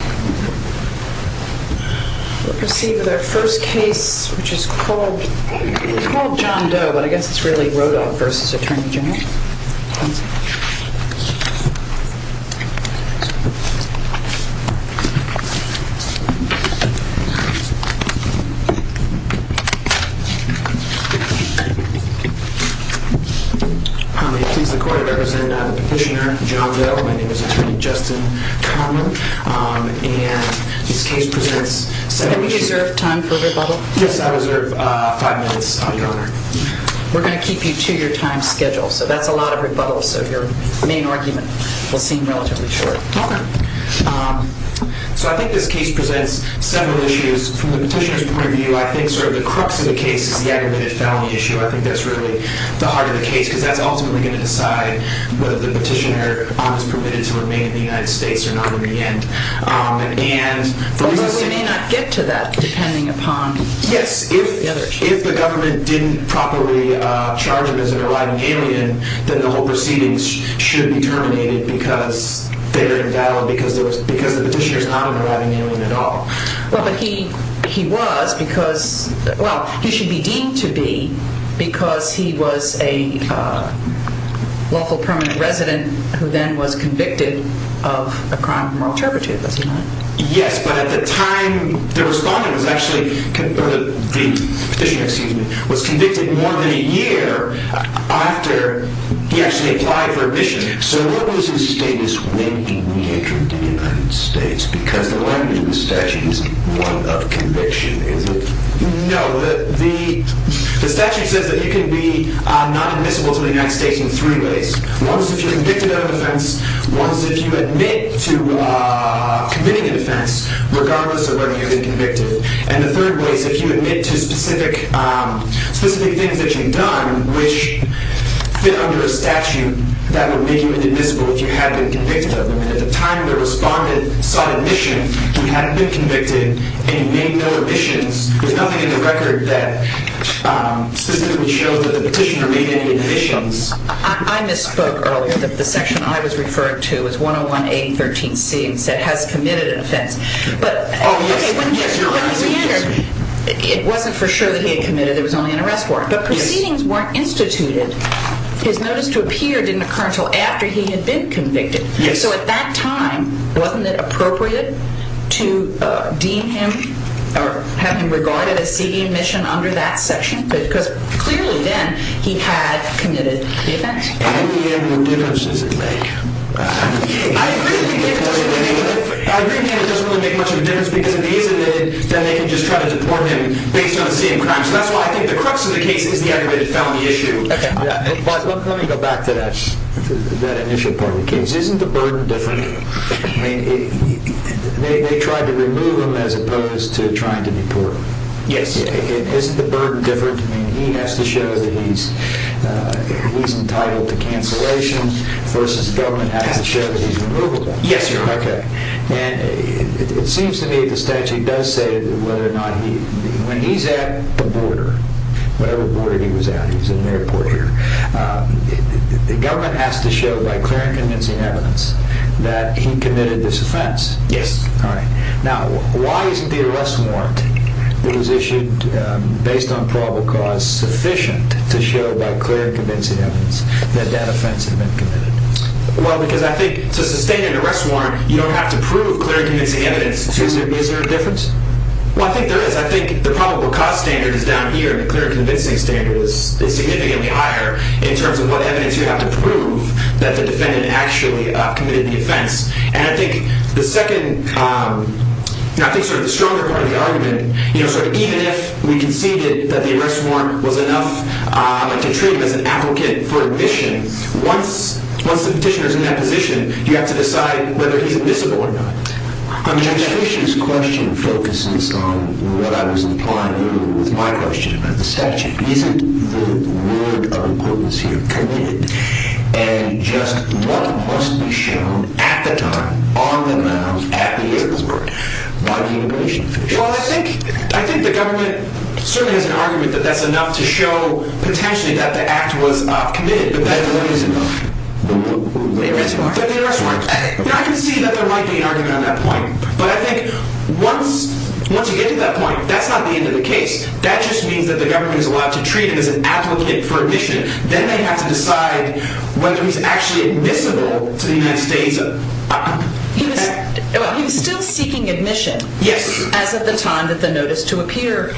We'll proceed with our first case, which is called John Doe, but I guess it's really important for the court to represent the petitioner, John Doe. My name is Attorney Justin Conlon. And this case presents several issues. Do you reserve time for rebuttal? Yes, I reserve five minutes, Your Honor. We're going to keep you to your time schedule, so that's a lot of rebuttals, so your main argument will seem relatively short. Okay. So I think this case presents several issues. From the petitioner's point of view, I think sort of the crux of the case is the aggravated felony issue. I think that's really the heart of the case, because that's ultimately going to decide whether the petitioner is permitted to remain in the United States or not in the end. Although we may not get to that, depending upon the other issues. Yes, if the government didn't properly charge him as an arriving alien, then the whole proceedings should be terminated because they were endowed because the petitioner is not an arriving alien at all. Well, but he was because, well, he should be deemed to be because he was a lawful permanent resident who then was convicted of a crime of moral turpitude, was he not? Yes, but at the time, the respondent was actually, or the petitioner, excuse me, was convicted more than a year after he actually applied for admission. So what was his status when he re-entered the United States? Because the language in the statute isn't one of conviction, is it? No. The statute says that you can be not admissible to the United States in three ways. One is if you're convicted of an offense. One is if you admit to committing an offense, regardless of whether you're being convicted. And the third way is if you admit to specific things that you've done which fit under a statute that would make you inadmissible if you had been convicted of them. And at the time the respondent sought admission, he hadn't been convicted, and he made no admissions. There's nothing in the record that specifically shows that the petitioner made any admissions. I misspoke earlier. The section I was referring to is 101A13C and said has committed an offense. It wasn't for sure that he had committed. It was only an arrest warrant. But proceedings weren't instituted. His notice to appear didn't occur until after he had been convicted. So at that time, wasn't it appropriate to deem him or have him regarded as seeking admission under that section? Because clearly then he had committed the offense. I agree with him that it doesn't really make much of a difference because if he isn't, then they can just try to deport him based on seeing crimes. So that's why I think the crux of the case is the aggravated felony issue. Let me go back to that initial part of the case. Isn't the burden different? They tried to remove him as opposed to trying to deport him. Yes. Isn't the burden different? He has to show that he's entitled to cancellation versus the government has to show that he's removable. Yes, sir. Okay. And it seems to me the statute does say whether or not he... When he's at the border, whatever border he was at, he was in an airport here, the government has to show by clear and convincing evidence that he committed this offense. Yes. All right. Now, why isn't the arrest warrant that was issued based on probable cause sufficient to show by clear and convincing evidence that that offense had been committed? Well, because I think to sustain an arrest warrant, you don't have to prove clear and convincing evidence. Is there a difference? Well, I think there is. I think the probable cause standard is down here and the clear and convincing standard is significantly higher in terms of what evidence you have to prove that the defendant actually committed the offense. And I think the second, I think sort of the stronger part of the argument, even if we can see that the arrest warrant was enough to treat him as an applicant for admission, once the petitioner is in that position, you have to decide whether he's admissible or not. I mean, I think this question focuses on what I was implying earlier with my question about the statute. Isn't the word of equivalency committed? And just what must be shown at the time, on the grounds, at the airport by the immigration officials? Well, I think the government certainly has an argument that that's enough to show potentially that the act was committed, but that the warrant is enough. The arrest warrant. The arrest warrant. Now, I can see that there might be an argument on that point. But I think once you get to that point, that's not the end of the case. That just means that the government is allowed to treat him as an applicant for admission. Then they have to decide whether he's actually admissible to the United States. He was still seeking admission. Yes. As of the time that the notice to appear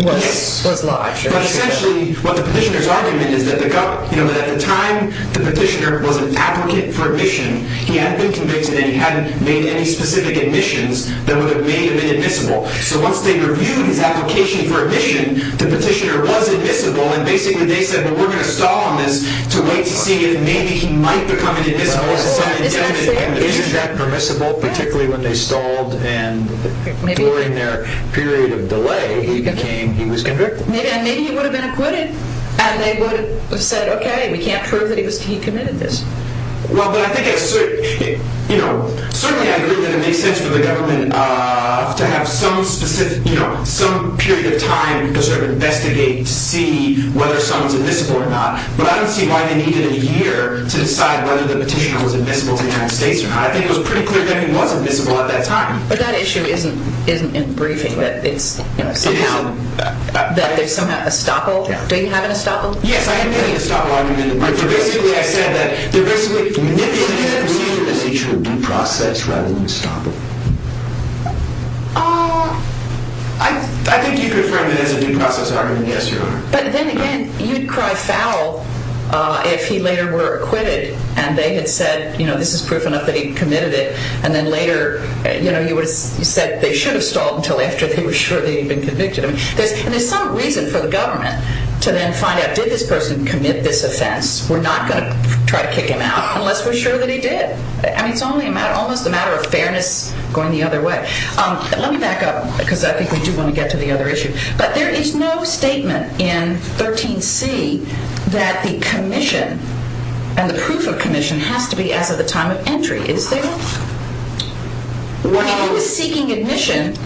was lodged. But essentially, what the petitioner's argument is that at the time the petitioner was an applicant for admission, he hadn't been convicted and he hadn't made any specific admissions that would have made him admissible. So once they reviewed his application for admission, the petitioner was admissible. And basically, they said, well, we're going to stall on this to wait to see if maybe he might become an admissible. Well, isn't that permissible? Particularly when they stalled and during their period of delay, he was convicted. Maybe he would have been acquitted and they would have said, okay, we can't prove that he committed this. Certainly, I agree that it makes sense for the government to have some period of time to sort of investigate, to see whether someone's admissible or not. But I don't see why they needed a year to decide whether the petitioner was admissible to the United States or not. I think it was pretty clear that he was admissible at that time. But that issue isn't in the briefing, that there's somehow a stopple. Don't you have a stopple? Yes. I am making a stopple argument in the briefing. Basically, I said that there basically isn't an issue of due process rather than a stopple. I think you can frame it as a due process argument, yes, Your Honor. But then again, you'd cry foul if he later were acquitted and they had said, you know, this is proof enough that he committed it. And then later, you know, you would have said they should have stalled until after they were sure that he had been convicted. And there's some reason for the government to then find out, did this person commit this offense? We're not going to try to kick him out unless we're sure that he did. I mean, it's almost a matter of fairness going the other way. Let me back up because I think we do want to get to the other issue. But there is no statement in 13C that the commission and the proof of commission has to be as of the time of entry. Is there? When he was seeking admission,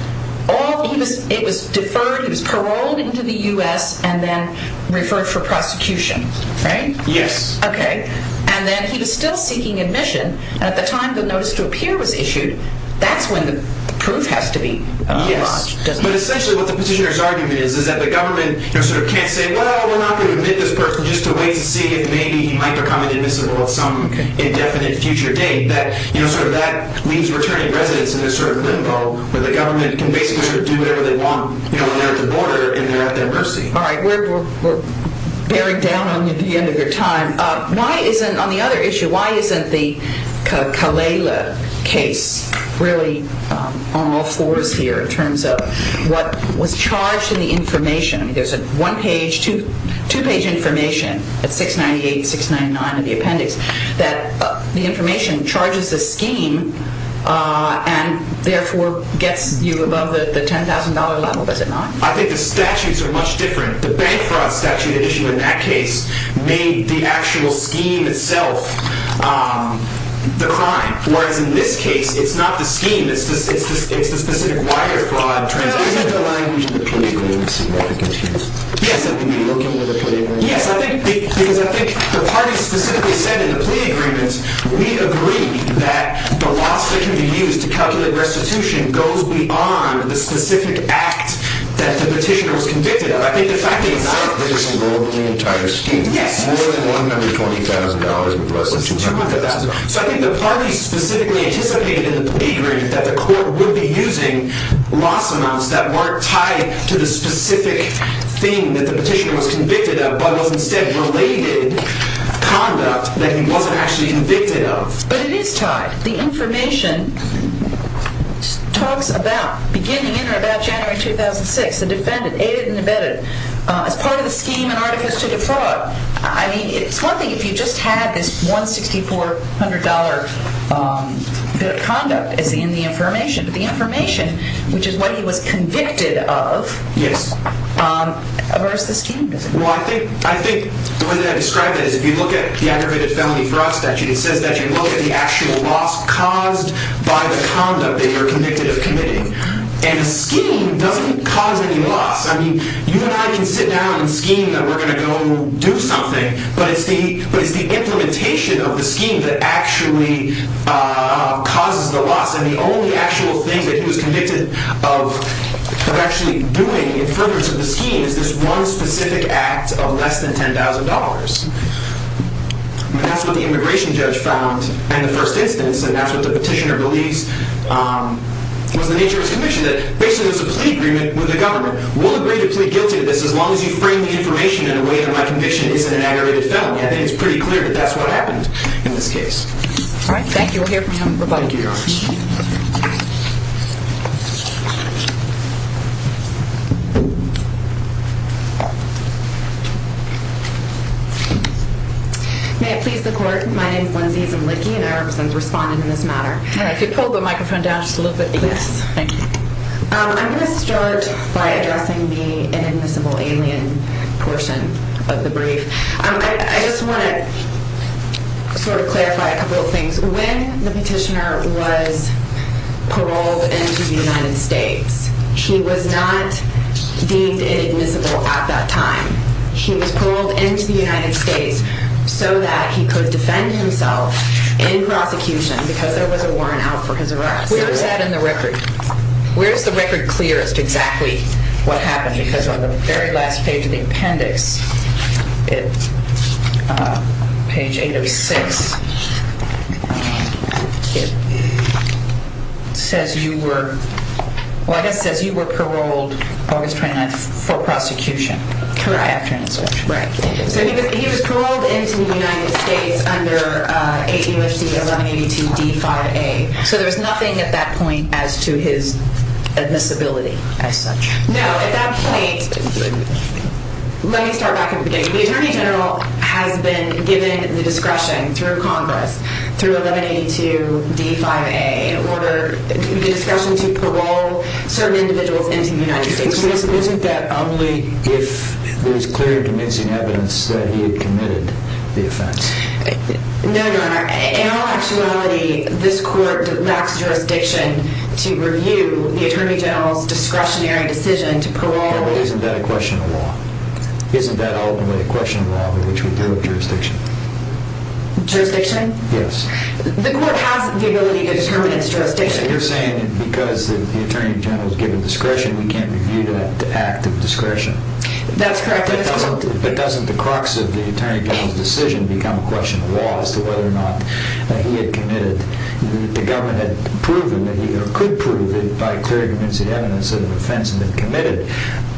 it was deferred. He was paroled into the U.S. and then referred for prosecution. Right? Yes. OK. And then he was still seeking admission. At the time the notice to appear was issued. That's when the proof has to be. Yes. But essentially what the petitioner's argument is, is that the government can't say, well, we're not going to admit this person just to wait to see if maybe he might become an invisible of some indefinite future date. That leaves returning residents in this sort of limbo where the government can basically do whatever they want when they're at the border and they're at their mercy. All right. We're bearing down on you at the end of your time. On the other issue, why isn't the Kalela case really on all fours here in terms of what was charged in the information? I mean, there's a one-page, two-page information at 698, 699 in the appendix that the information charges the scheme and therefore gets you above the $10,000 level. Does it not? I think the statutes are much different. The bank fraud statute issue in that case made the actual scheme itself the crime, whereas in this case it's not the scheme, it's the specific wire fraud. Well, isn't the language in the plea agreements significant here? Yes. Are we working with the plea agreements? Yes. Because I think the parties specifically said in the plea agreements, we agree that the loss that can be used to calculate restitution goes beyond the specific act that the petitioner was convicted of. I think the fact that it's not the scheme. It's not the case in the entire scheme. Yes. More than $120,000 with less than $200,000. So I think the parties specifically anticipated in the plea agreement that the court would be using loss amounts that weren't tied to the specific thing that the petitioner was convicted of, but was instead related conduct that he wasn't actually convicted of. But it is tied. The information talks about beginning in or about January 2006, the defendant aided and abetted. As part of the scheme and artifice to the fraud, I mean, it's one thing if you just had this $164,000 bit of conduct in the information. But the information, which is what he was convicted of, versus the scheme. Well, I think the way that I describe it is if you look at the aggravated felony fraud statute, it says that you look at the actual loss caused by the conduct that you're convicted of committing. And the scheme doesn't cause any loss. I mean, you and I can sit down and scheme that we're going to go do something. But it's the implementation of the scheme that actually causes the loss. And the only actual thing that he was convicted of actually doing in furtherance of the scheme is this one specific act of less than $10,000. And that's what the immigration judge found in the first instance. And that's what the petitioner believes was the nature of his conviction. Basically, there's a plea agreement with the government. We'll agree to plead guilty to this as long as you frame the information in a way that my conviction isn't an aggravated felony. I think it's pretty clear that that's what happened in this case. All right, thank you. We'll hear from him. Thank you, Your Honor. May it please the Court. My name is Lindsay Zimlicki, and I represent Respondent in this matter. All right, could you pull the microphone down just a little bit, please? Yes, thank you. I'm going to start by addressing the inadmissible alien portion of the brief. I just want to sort of clarify a couple of things. When the petitioner was paroled into the United States, he was not deemed inadmissible at that time. He was paroled into the United States so that he could defend himself in prosecution because there was a warrant out for his arrest. Where is that in the record? Where is the record clear as to exactly what happened? Because on the very last page of the appendix, page 806, it says you were paroled August 29th for prosecution. Correct. Correct. So he was paroled into the United States under 8 U.S.C. 1182 D5A. So there was nothing at that point as to his admissibility as such. No, at that point, let me start back at the beginning. The Attorney General has been given the discretion through Congress, through 1182 D5A, in order, the discretion to parole certain individuals into the United States. Isn't that only if there's clear convincing evidence that he had committed the offense? No, Your Honor. In all actuality, this Court lacks jurisdiction to review the Attorney General's discretionary decision to parole. Well, isn't that a question of law? Isn't that ultimately a question of law in which we do have jurisdiction? Jurisdiction? Yes. The Court has the ability to determine its jurisdiction. So you're saying that because the Attorney General is given discretion, we can't review that act of discretion? That's correct. But doesn't the crux of the Attorney General's decision become a question of law as to whether or not he had committed, that the government had proven that he could prove it by clear convincing evidence that an offense had been committed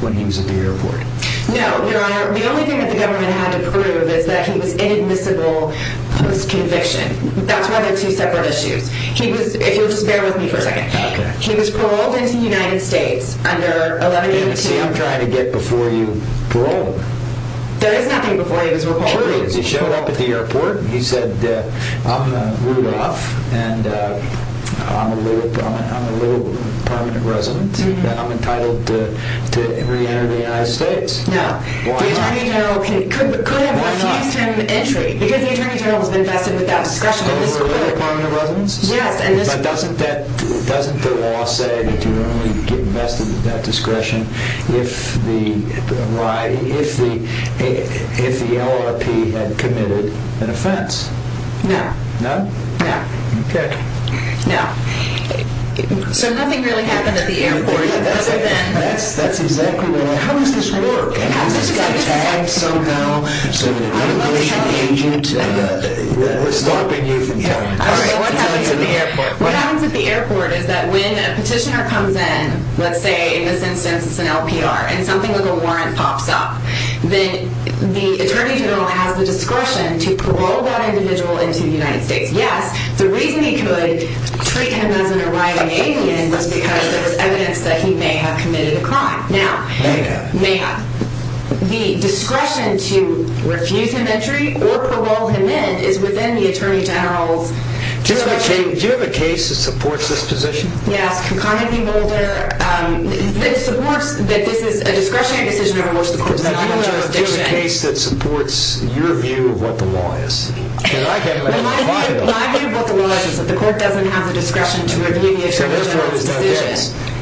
when he was at the airport? No, Your Honor. The only thing that the government had to prove is that he was inadmissible post-conviction. That's why they're two separate issues. If you'll just bear with me for a second. Okay. He was paroled into the United States under 1182. See, I'm trying to get before you paroled. There is nothing before you. He was paroled. He showed up at the airport. He said, I'm Rudolph, and I'm a little permanent resident, and I'm entitled to reenter the United States. No. Why not? Yes. But doesn't the law say that you only get vested in that discretion if the LRP had committed an offense? No. No? No. Okay. No. So nothing really happened at the airport. That's exactly right. How does this work? I would love to tell you. All right. What happens at the airport? What happens at the airport is that when a petitioner comes in, let's say in this instance it's an LPR, and something like a warrant pops up, then the attorney general has the discretion to parole that individual into the United States. Yes, the reason he could treat him as an arriving alien was because there was evidence that he may have committed a crime. May have. May have. The discretion to refuse him entry or parole him in is within the attorney general's discretion. Do you have a case that supports this position? Yes. Connally v. Mulder. It supports that this is a discretionary decision to revoke the court's denial of jurisdiction. Do you have a case that supports your view of what the law is? My view of what the law is is that the court doesn't have the discretion to review the attorney general's decision.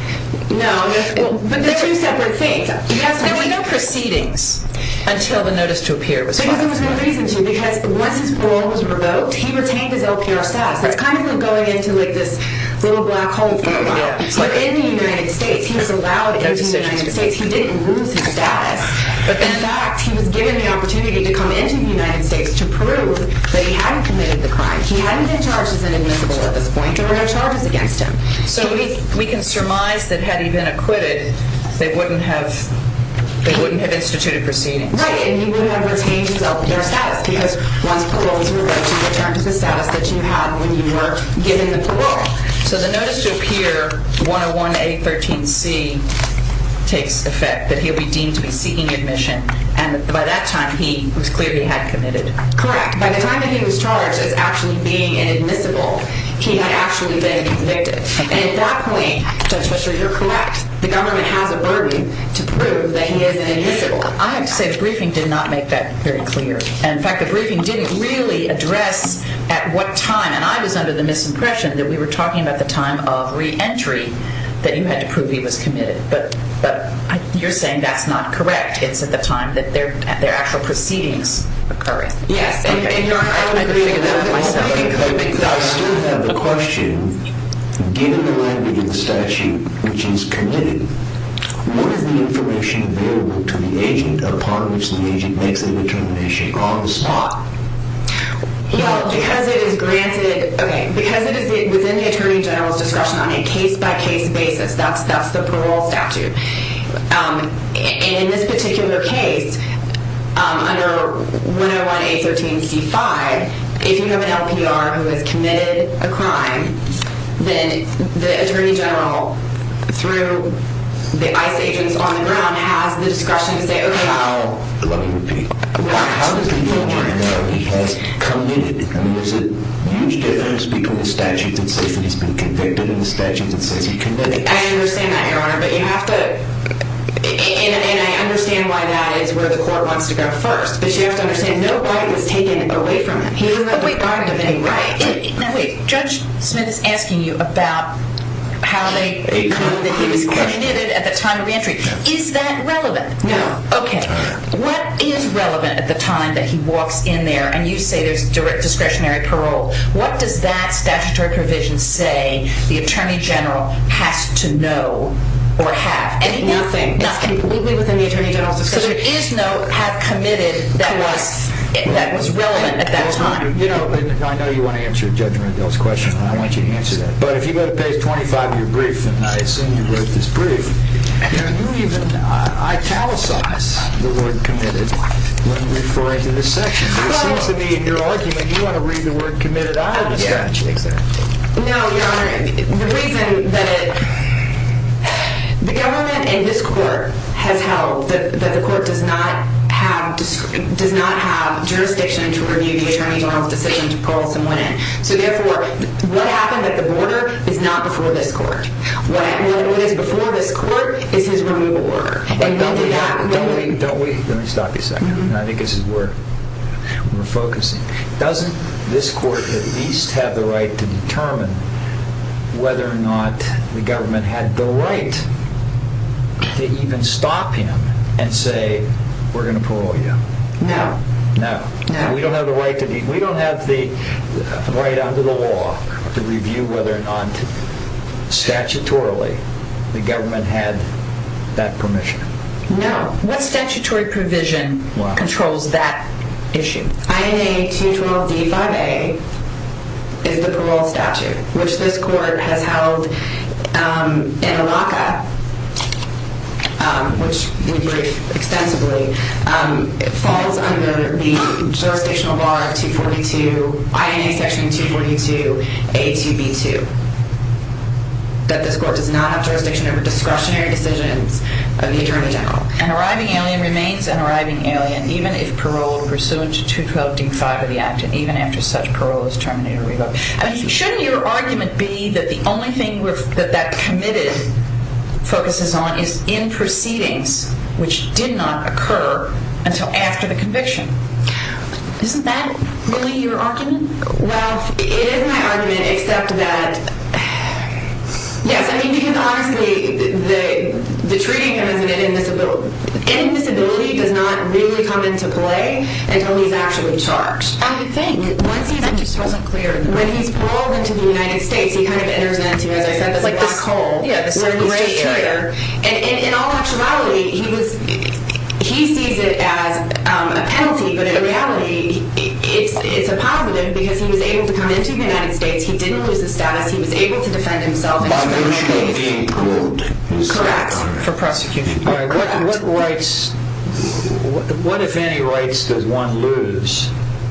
No. But there are two separate things. There were no proceedings until the notice to appear was filed. There was no reason to because once his parole was revoked, he retained his LPR status. That's kind of like going into this little black hole for a while. But in the United States, he was allowed into the United States. He didn't lose his status. In fact, he was given the opportunity to come into the United States to prove that he hadn't committed the crime. He hadn't been charged as an admissible at this point. There were no charges against him. So we can surmise that had he been acquitted, they wouldn't have instituted proceedings. Right. And he wouldn't have retained his LPR status because once parole was revoked, he returned to the status that you had when you were given the parole. So the notice to appear 101A13C takes effect, that he'll be deemed to be seeking admission, and by that time, it was clear he had committed. Correct. By the time that he was charged as actually being inadmissible, he had actually been convicted. And at that point, Judge Fischer, you're correct. The government has a verdict to prove that he is inadmissible. I have to say the briefing did not make that very clear. In fact, the briefing didn't really address at what time, and I was under the misimpression that we were talking about the time of reentry, that you had to prove he was committed. But you're saying that's not correct. It's at the time that their actual proceedings occurred. Yes. I don't agree with that. I still have a question. Given the language of the statute, which is committed, what is the information available to the agent upon which the agent makes the determination on the spot? Because it is granted within the Attorney General's discretion on a case-by-case basis, that's the parole statute. And in this particular case, under 101A13C5, if you have an LPR who has committed a crime, then the Attorney General, through the ICE agents on the ground, has the discretion to say, okay, well, let me repeat. Well, how does the Attorney General know he has committed? I mean, there's a huge difference between the statute that says that he's been convicted and the statute that says he committed. I understand that, Your Honor. But you have to – and I understand why that is where the court wants to go first. But you have to understand, no guidance is taken away from him. He doesn't have the guidance of any right. Wait. Judge Smith is asking you about how they prove that he was committed at the time of reentry. Is that relevant? No. Okay. What is relevant at the time that he walks in there and you say there's discretionary parole? What does that statutory provision say the Attorney General has to know or have? Nothing. It's completely within the Attorney General's discretion. So there is no have committed that was relevant at that time. I know you want to answer Judge Rendell's question, and I want you to answer that. But if you go to page 25 of your brief, and I assume you wrote this brief, can you even italicize the word committed when referring to this section? It seems to me in your argument you want to read the word committed out of the statute. No, Your Honor. The reason that the government in this court has held that the court does not have jurisdiction to review the Attorney General's decision to parole someone in. So therefore, what happened at the border is not before this court. What is before this court is his removal order. Don't we – let me stop you a second. I think this is where we're focusing. Doesn't this court at least have the right to determine whether or not the government had the right to even stop him and say we're going to parole you? No. No. We don't have the right under the law to review whether or not statutorily the government had that permission. No. What statutory provision controls that issue? INA 212D5A is the parole statute, which this court has held in a lockup, which we briefed extensively. It falls under the jurisdictional bar of 242 – INA section 242A2B2, that this court does not have jurisdiction over discretionary decisions of the Attorney General. An arriving alien remains an arriving alien even if paroled pursuant to 212D5 of the Act and even after such parole is terminated or revoked. Shouldn't your argument be that the only thing that that committed focuses on is in proceedings, which did not occur until after the conviction? Isn't that really your argument? Well, it is my argument except that – yes, I mean, because honestly, the treating him as an indisability does not really come into play until he's actually charged. I think that just wasn't clear enough. When he's paroled into the United States, he kind of enters into, as I said, this black hole where he's just a traitor. And in all actuality, he sees it as a penalty, but in reality it's a positive because he was able to come into the United States, he didn't lose his status, he was able to defend himself in his criminal case for prosecution. All right. What rights – what, if any, rights does one lose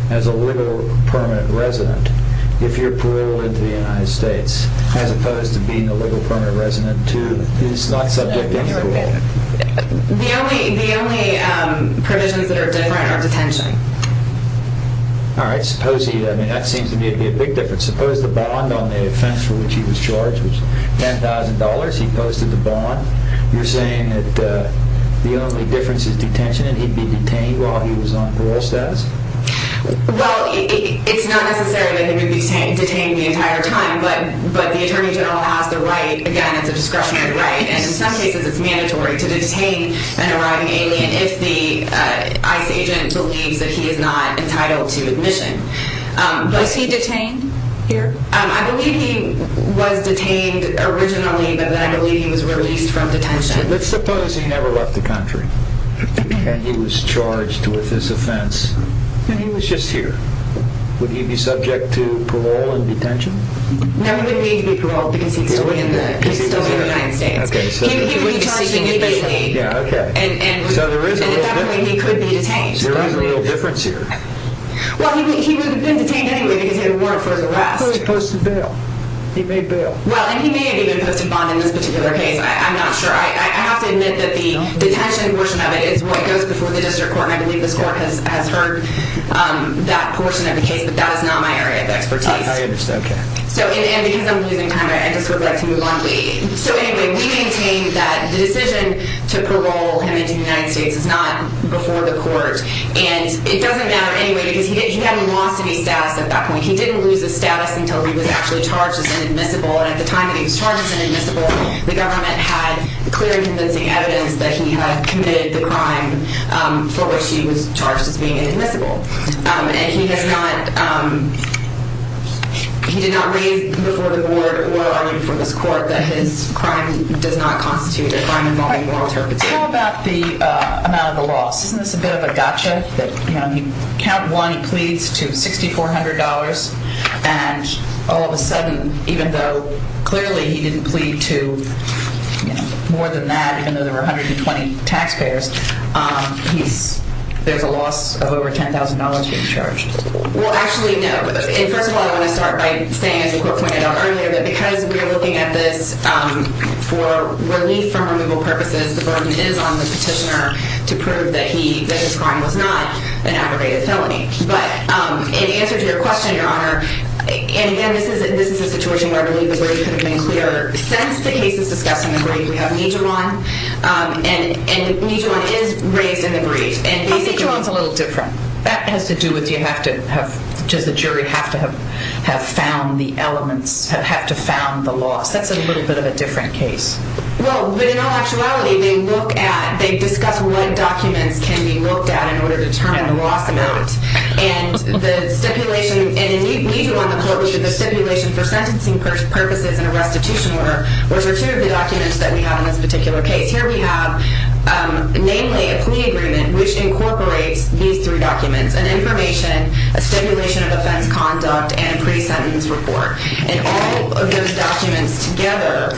as a legal permanent resident if you're paroled into the United States as opposed to being a legal permanent resident who is not subject to any rule? The only provisions that are different are detention. All right. Suppose he – I mean, that seems to me to be a big difference. Suppose the bond on the offense for which he was charged was $10,000. He posted the bond. You're saying that the only difference is detention and he'd be detained while he was on parole status? Well, it's not necessary that he would be detained the entire time, but the attorney general has the right, again, it's a discretionary right, and in some cases it's mandatory to detain an arriving alien if the ICE agent believes that he is not entitled to admission. Was he detained here? I believe he was detained originally, but then I believe he was released from detention. Let's suppose he never left the country and he was charged with this offense and he was just here. Would he be subject to parole and detention? No, he wouldn't need to be paroled because he's still in the United States. He would be charged individually. Yeah, okay. And at that point he could be detained. So there is a real difference here. Well, he would have been detained anyway because he had a warrant for his arrest. I thought he posted bail. He made bail. Well, and he may have even posted bond in this particular case. I'm not sure. I have to admit that the detention portion of it is what goes before the district court, and I believe this court has heard that portion of the case, but that is not my area of expertise. I understand, okay. And because I'm losing time, I just would like to move on. So anyway, we maintain that the decision to parole him into the United States is not before the court, and it doesn't matter anyway because he hadn't lost any status at that point. He didn't lose his status until he was actually charged as inadmissible, and at the time that he was charged as inadmissible, the government had clear and convincing evidence that he had committed the crime for which he was charged as being inadmissible, and he did not raise before the board or before this court that his crime does not constitute a crime involving moral interpretation. How about the amount of the loss? Isn't this a bit of a gotcha? You know, you count one, he pleads to $6,400, and all of a sudden, even though clearly he didn't plead to more than that, even though there were 120 taxpayers, there's a loss of over $10,000 being charged. Well, actually, no. First of all, I want to start by saying, as the court pointed out earlier, that because we are looking at this for relief from removal purposes, the burden is on the petitioner to prove that his crime was not an aggravated felony. But in answer to your question, Your Honor, and again, this is a situation where I believe the brief could have been clearer. Since the case is discussed in the brief, we have Nijuron, and Nijuron is raised in the brief. But Nijuron's a little different. That has to do with you have to have, does the jury have to have found the elements, have to have found the loss. That's a little bit of a different case. Well, but in all actuality, they look at, they discuss what documents can be looked at in order to determine the loss amount. And the stipulation, and in Nijuron, the court looked at the stipulation for sentencing purposes in a restitution order, which are two of the documents that we have in this particular case. Here we have, namely, a plea agreement, which incorporates these three documents, an information, a stipulation of offense conduct, and a pre-sentence report. And all of those documents together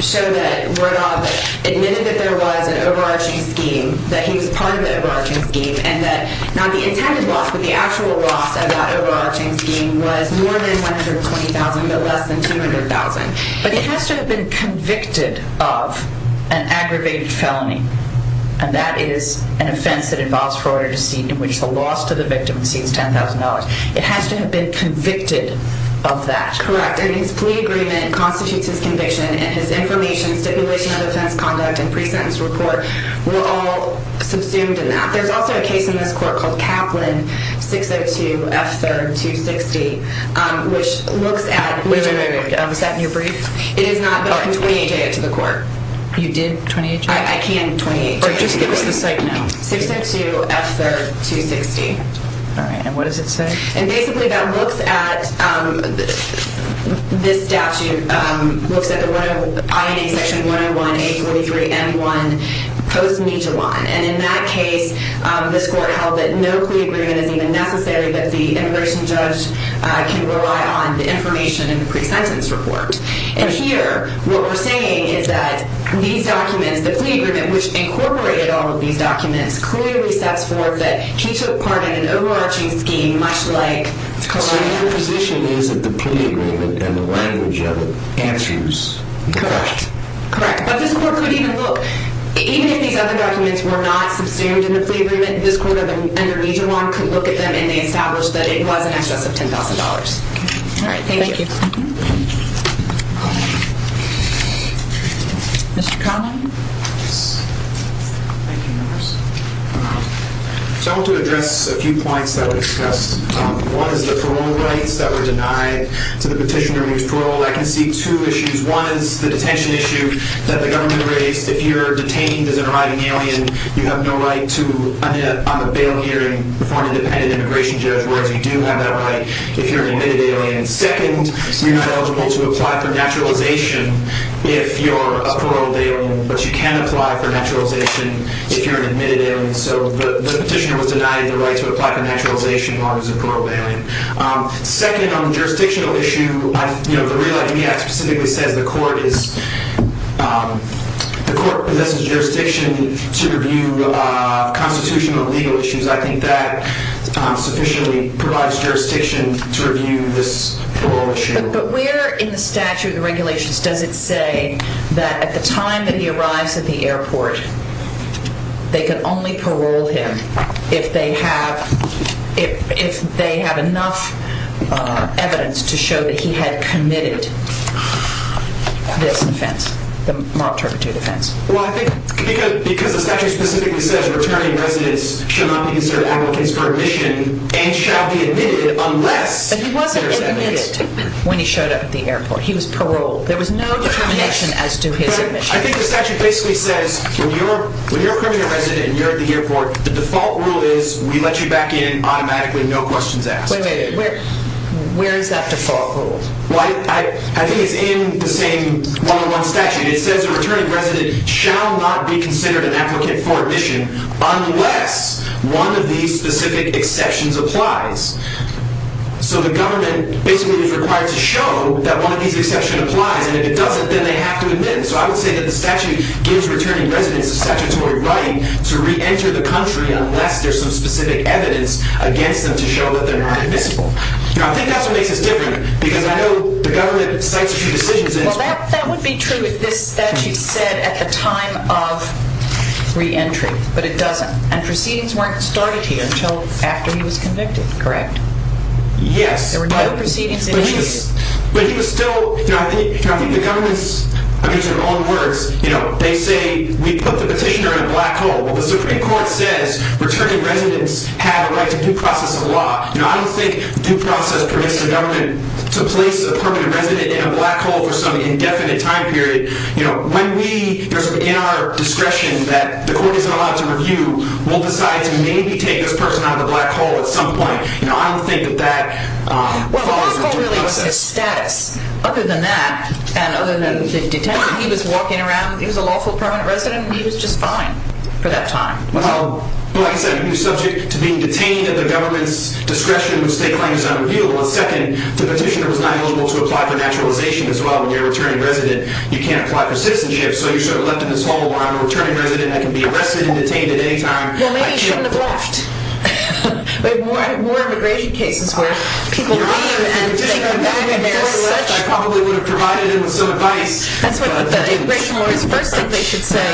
show that Rodoff admitted that there was an overarching scheme, that he was part of the overarching scheme, and that not the intended loss but the actual loss of that overarching scheme was more than $120,000 but less than $200,000. But it has to have been convicted of an aggravated felony, and that is an offense that involves fraud or deceit in which the loss to the victim exceeds $10,000. It has to have been convicted of that. Correct. And his plea agreement constitutes his conviction, and his information, stipulation of offense conduct, and pre-sentence report were all subsumed in that. There's also a case in this court called Kaplan 602 F. 3rd. 260, which looks at... Wait, wait, wait. Was that in your brief? It is not, but I can 28-J it to the court. You did 28-J it? I can 28-J it. Just give us the site now. 602 F. 3rd. 260. All right, and what does it say? And basically that looks at... This statute looks at the INA section 101, 843 M1, post-Mija 1. And in that case, this court held that no plea agreement is even necessary, that the immigration judge can rely on the information in the pre-sentence report. And here, what we're saying is that these documents, the plea agreement which incorporated all of these documents, clearly sets forth that he took part in an overarching scheme much like... So your position is that the plea agreement and the language of it answers the question. Correct. But this court could even look... Even if these other documents were not subsumed in the plea agreement, this court under Mija 1 could look at them, and they established that it was in excess of $10,000. All right, thank you. Thank you. Mr. Conlon? Yes. Thank you, members. So I want to address a few points that were discussed. One is the parole rights that were denied to the petitioner who was paroled. I can see two issues. One is the detention issue that the government raised. If you're detained as an arriving alien, you have no right on the bail hearing before an independent immigration judge, whereas you do have that right if you're an admitted alien. Second, you're not eligible to apply for naturalization if you're a paroled alien, but you can apply for naturalization if you're an admitted alien. So the petitioner was denied the right to apply for naturalization as long as he's a paroled alien. Second, on the jurisdictional issue, the Real Life in the Act specifically says the court possesses jurisdiction to review constitutional and legal issues. I think that sufficiently provides jurisdiction to review this parole issue. But where in the statute, the regulations, does it say that at the time that he arrives at the airport, they can only parole him if they have enough evidence to show that he had committed this offense, the moral prejudice offense. Well, I think because the statute specifically says returning residents shall not be considered applicants for admission and shall be admitted unless there's evidence. But he wasn't admitted when he showed up at the airport. He was paroled. There was no determination as to his admission. But I think the statute basically says when you're a criminal resident and you're at the airport, the default rule is we let you back in automatically, no questions asked. Wait a minute. Where is that default rule? Well, I think it's in the same one-on-one statute. It says a returning resident shall not be considered an applicant for admission unless one of these specific exceptions applies. So the government basically is required to show that one of these exceptions applies, and if it doesn't, then they have to admit him. So I would say that the statute gives returning residents the statutory right to re-enter the country unless there's some specific evidence against them to show that they're not admissible. Now, I think that's what makes this different, because I know the government cites a few decisions in this one. Well, that would be true if this statute said at the time of re-entry, but it doesn't. And proceedings weren't started here until after he was convicted, correct? Yes. There were no proceedings initiated. But he was still, you know, I think the government's, I mean, in their own words, you know, they say we put the petitioner in a black hole. Well, the Supreme Court says returning residents have a right to due process of law. You know, I don't think due process permits the government to place a permanent resident in a black hole for some indefinite time period. You know, when we, in our discretion, that the court is not allowed to review, we'll decide to maybe take this person out of the black hole at some point. You know, I don't think that that follows the due process. Well, the black hole really is his status. Other than that, and other than the detention, he was walking around, he was a lawful permanent resident, and he was just fine for that time. Well, like I said, he was subject to being detained at the government's discretion with state claims unrevealed. And second, the petitioner was not eligible to apply for naturalization as well. When you're a returning resident, you can't apply for citizenship, so you're sort of left in this hole where I'm a returning resident, I can be arrested and detained at any time. Well, maybe he shouldn't have left. We have more immigration cases where people leave and they come back and they're such— Your Honor, if the petitioner had left, I probably would have provided him with some advice. That's what the immigration lawyers, the first thing they should say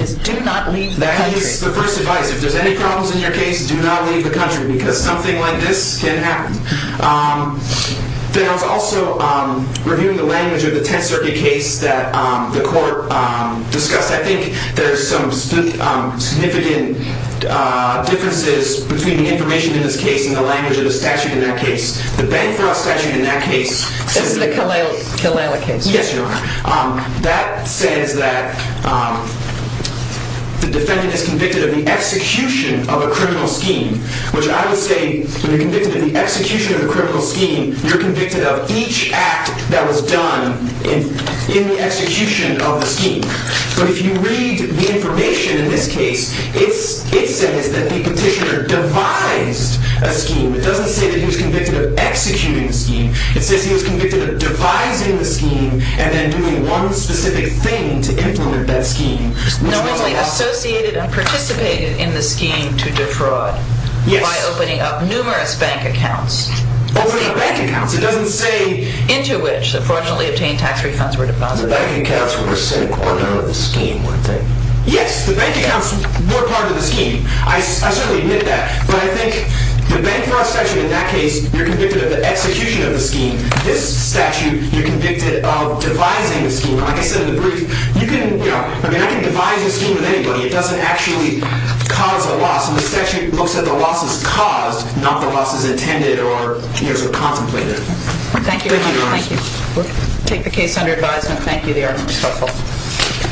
is do not leave the country. That is the first advice. If there's any problems in your case, do not leave the country, because something like this can happen. Then I was also reviewing the language of the Tenth Circuit case that the court discussed. I think there's some significant differences between the information in this case and the language of the statute in that case. The Bancroft statute in that case— That's the Kalela case. Yes, Your Honor. That says that the defendant is convicted of the execution of a criminal scheme, which I would say when you're convicted of the execution of a criminal scheme, you're convicted of each act that was done in the execution of the scheme. But if you read the information in this case, it says that the petitioner devised a scheme. It doesn't say that he was convicted of executing the scheme. It says he was convicted of devising the scheme and then doing one specific thing to implement that scheme. Normally associated and participated in the scheme to defraud by opening up numerous bank accounts. Opening up bank accounts? It doesn't say— Into which, unfortunately, obtained tax refunds were deposited. The bank accounts were part of the scheme, weren't they? Yes, the bank accounts were part of the scheme. I certainly admit that. But I think the Bancroft statute in that case, you're convicted of the execution of the scheme. This statute, you're convicted of devising the scheme. Like I said in the brief, you can—I mean, I can devise a scheme with anybody. It doesn't actually cause a loss. And the statute looks at the losses caused, not the losses intended or contemplated. Thank you, Your Honor. Thank you. Take the case under advisement. Thank you. The argument was helpful.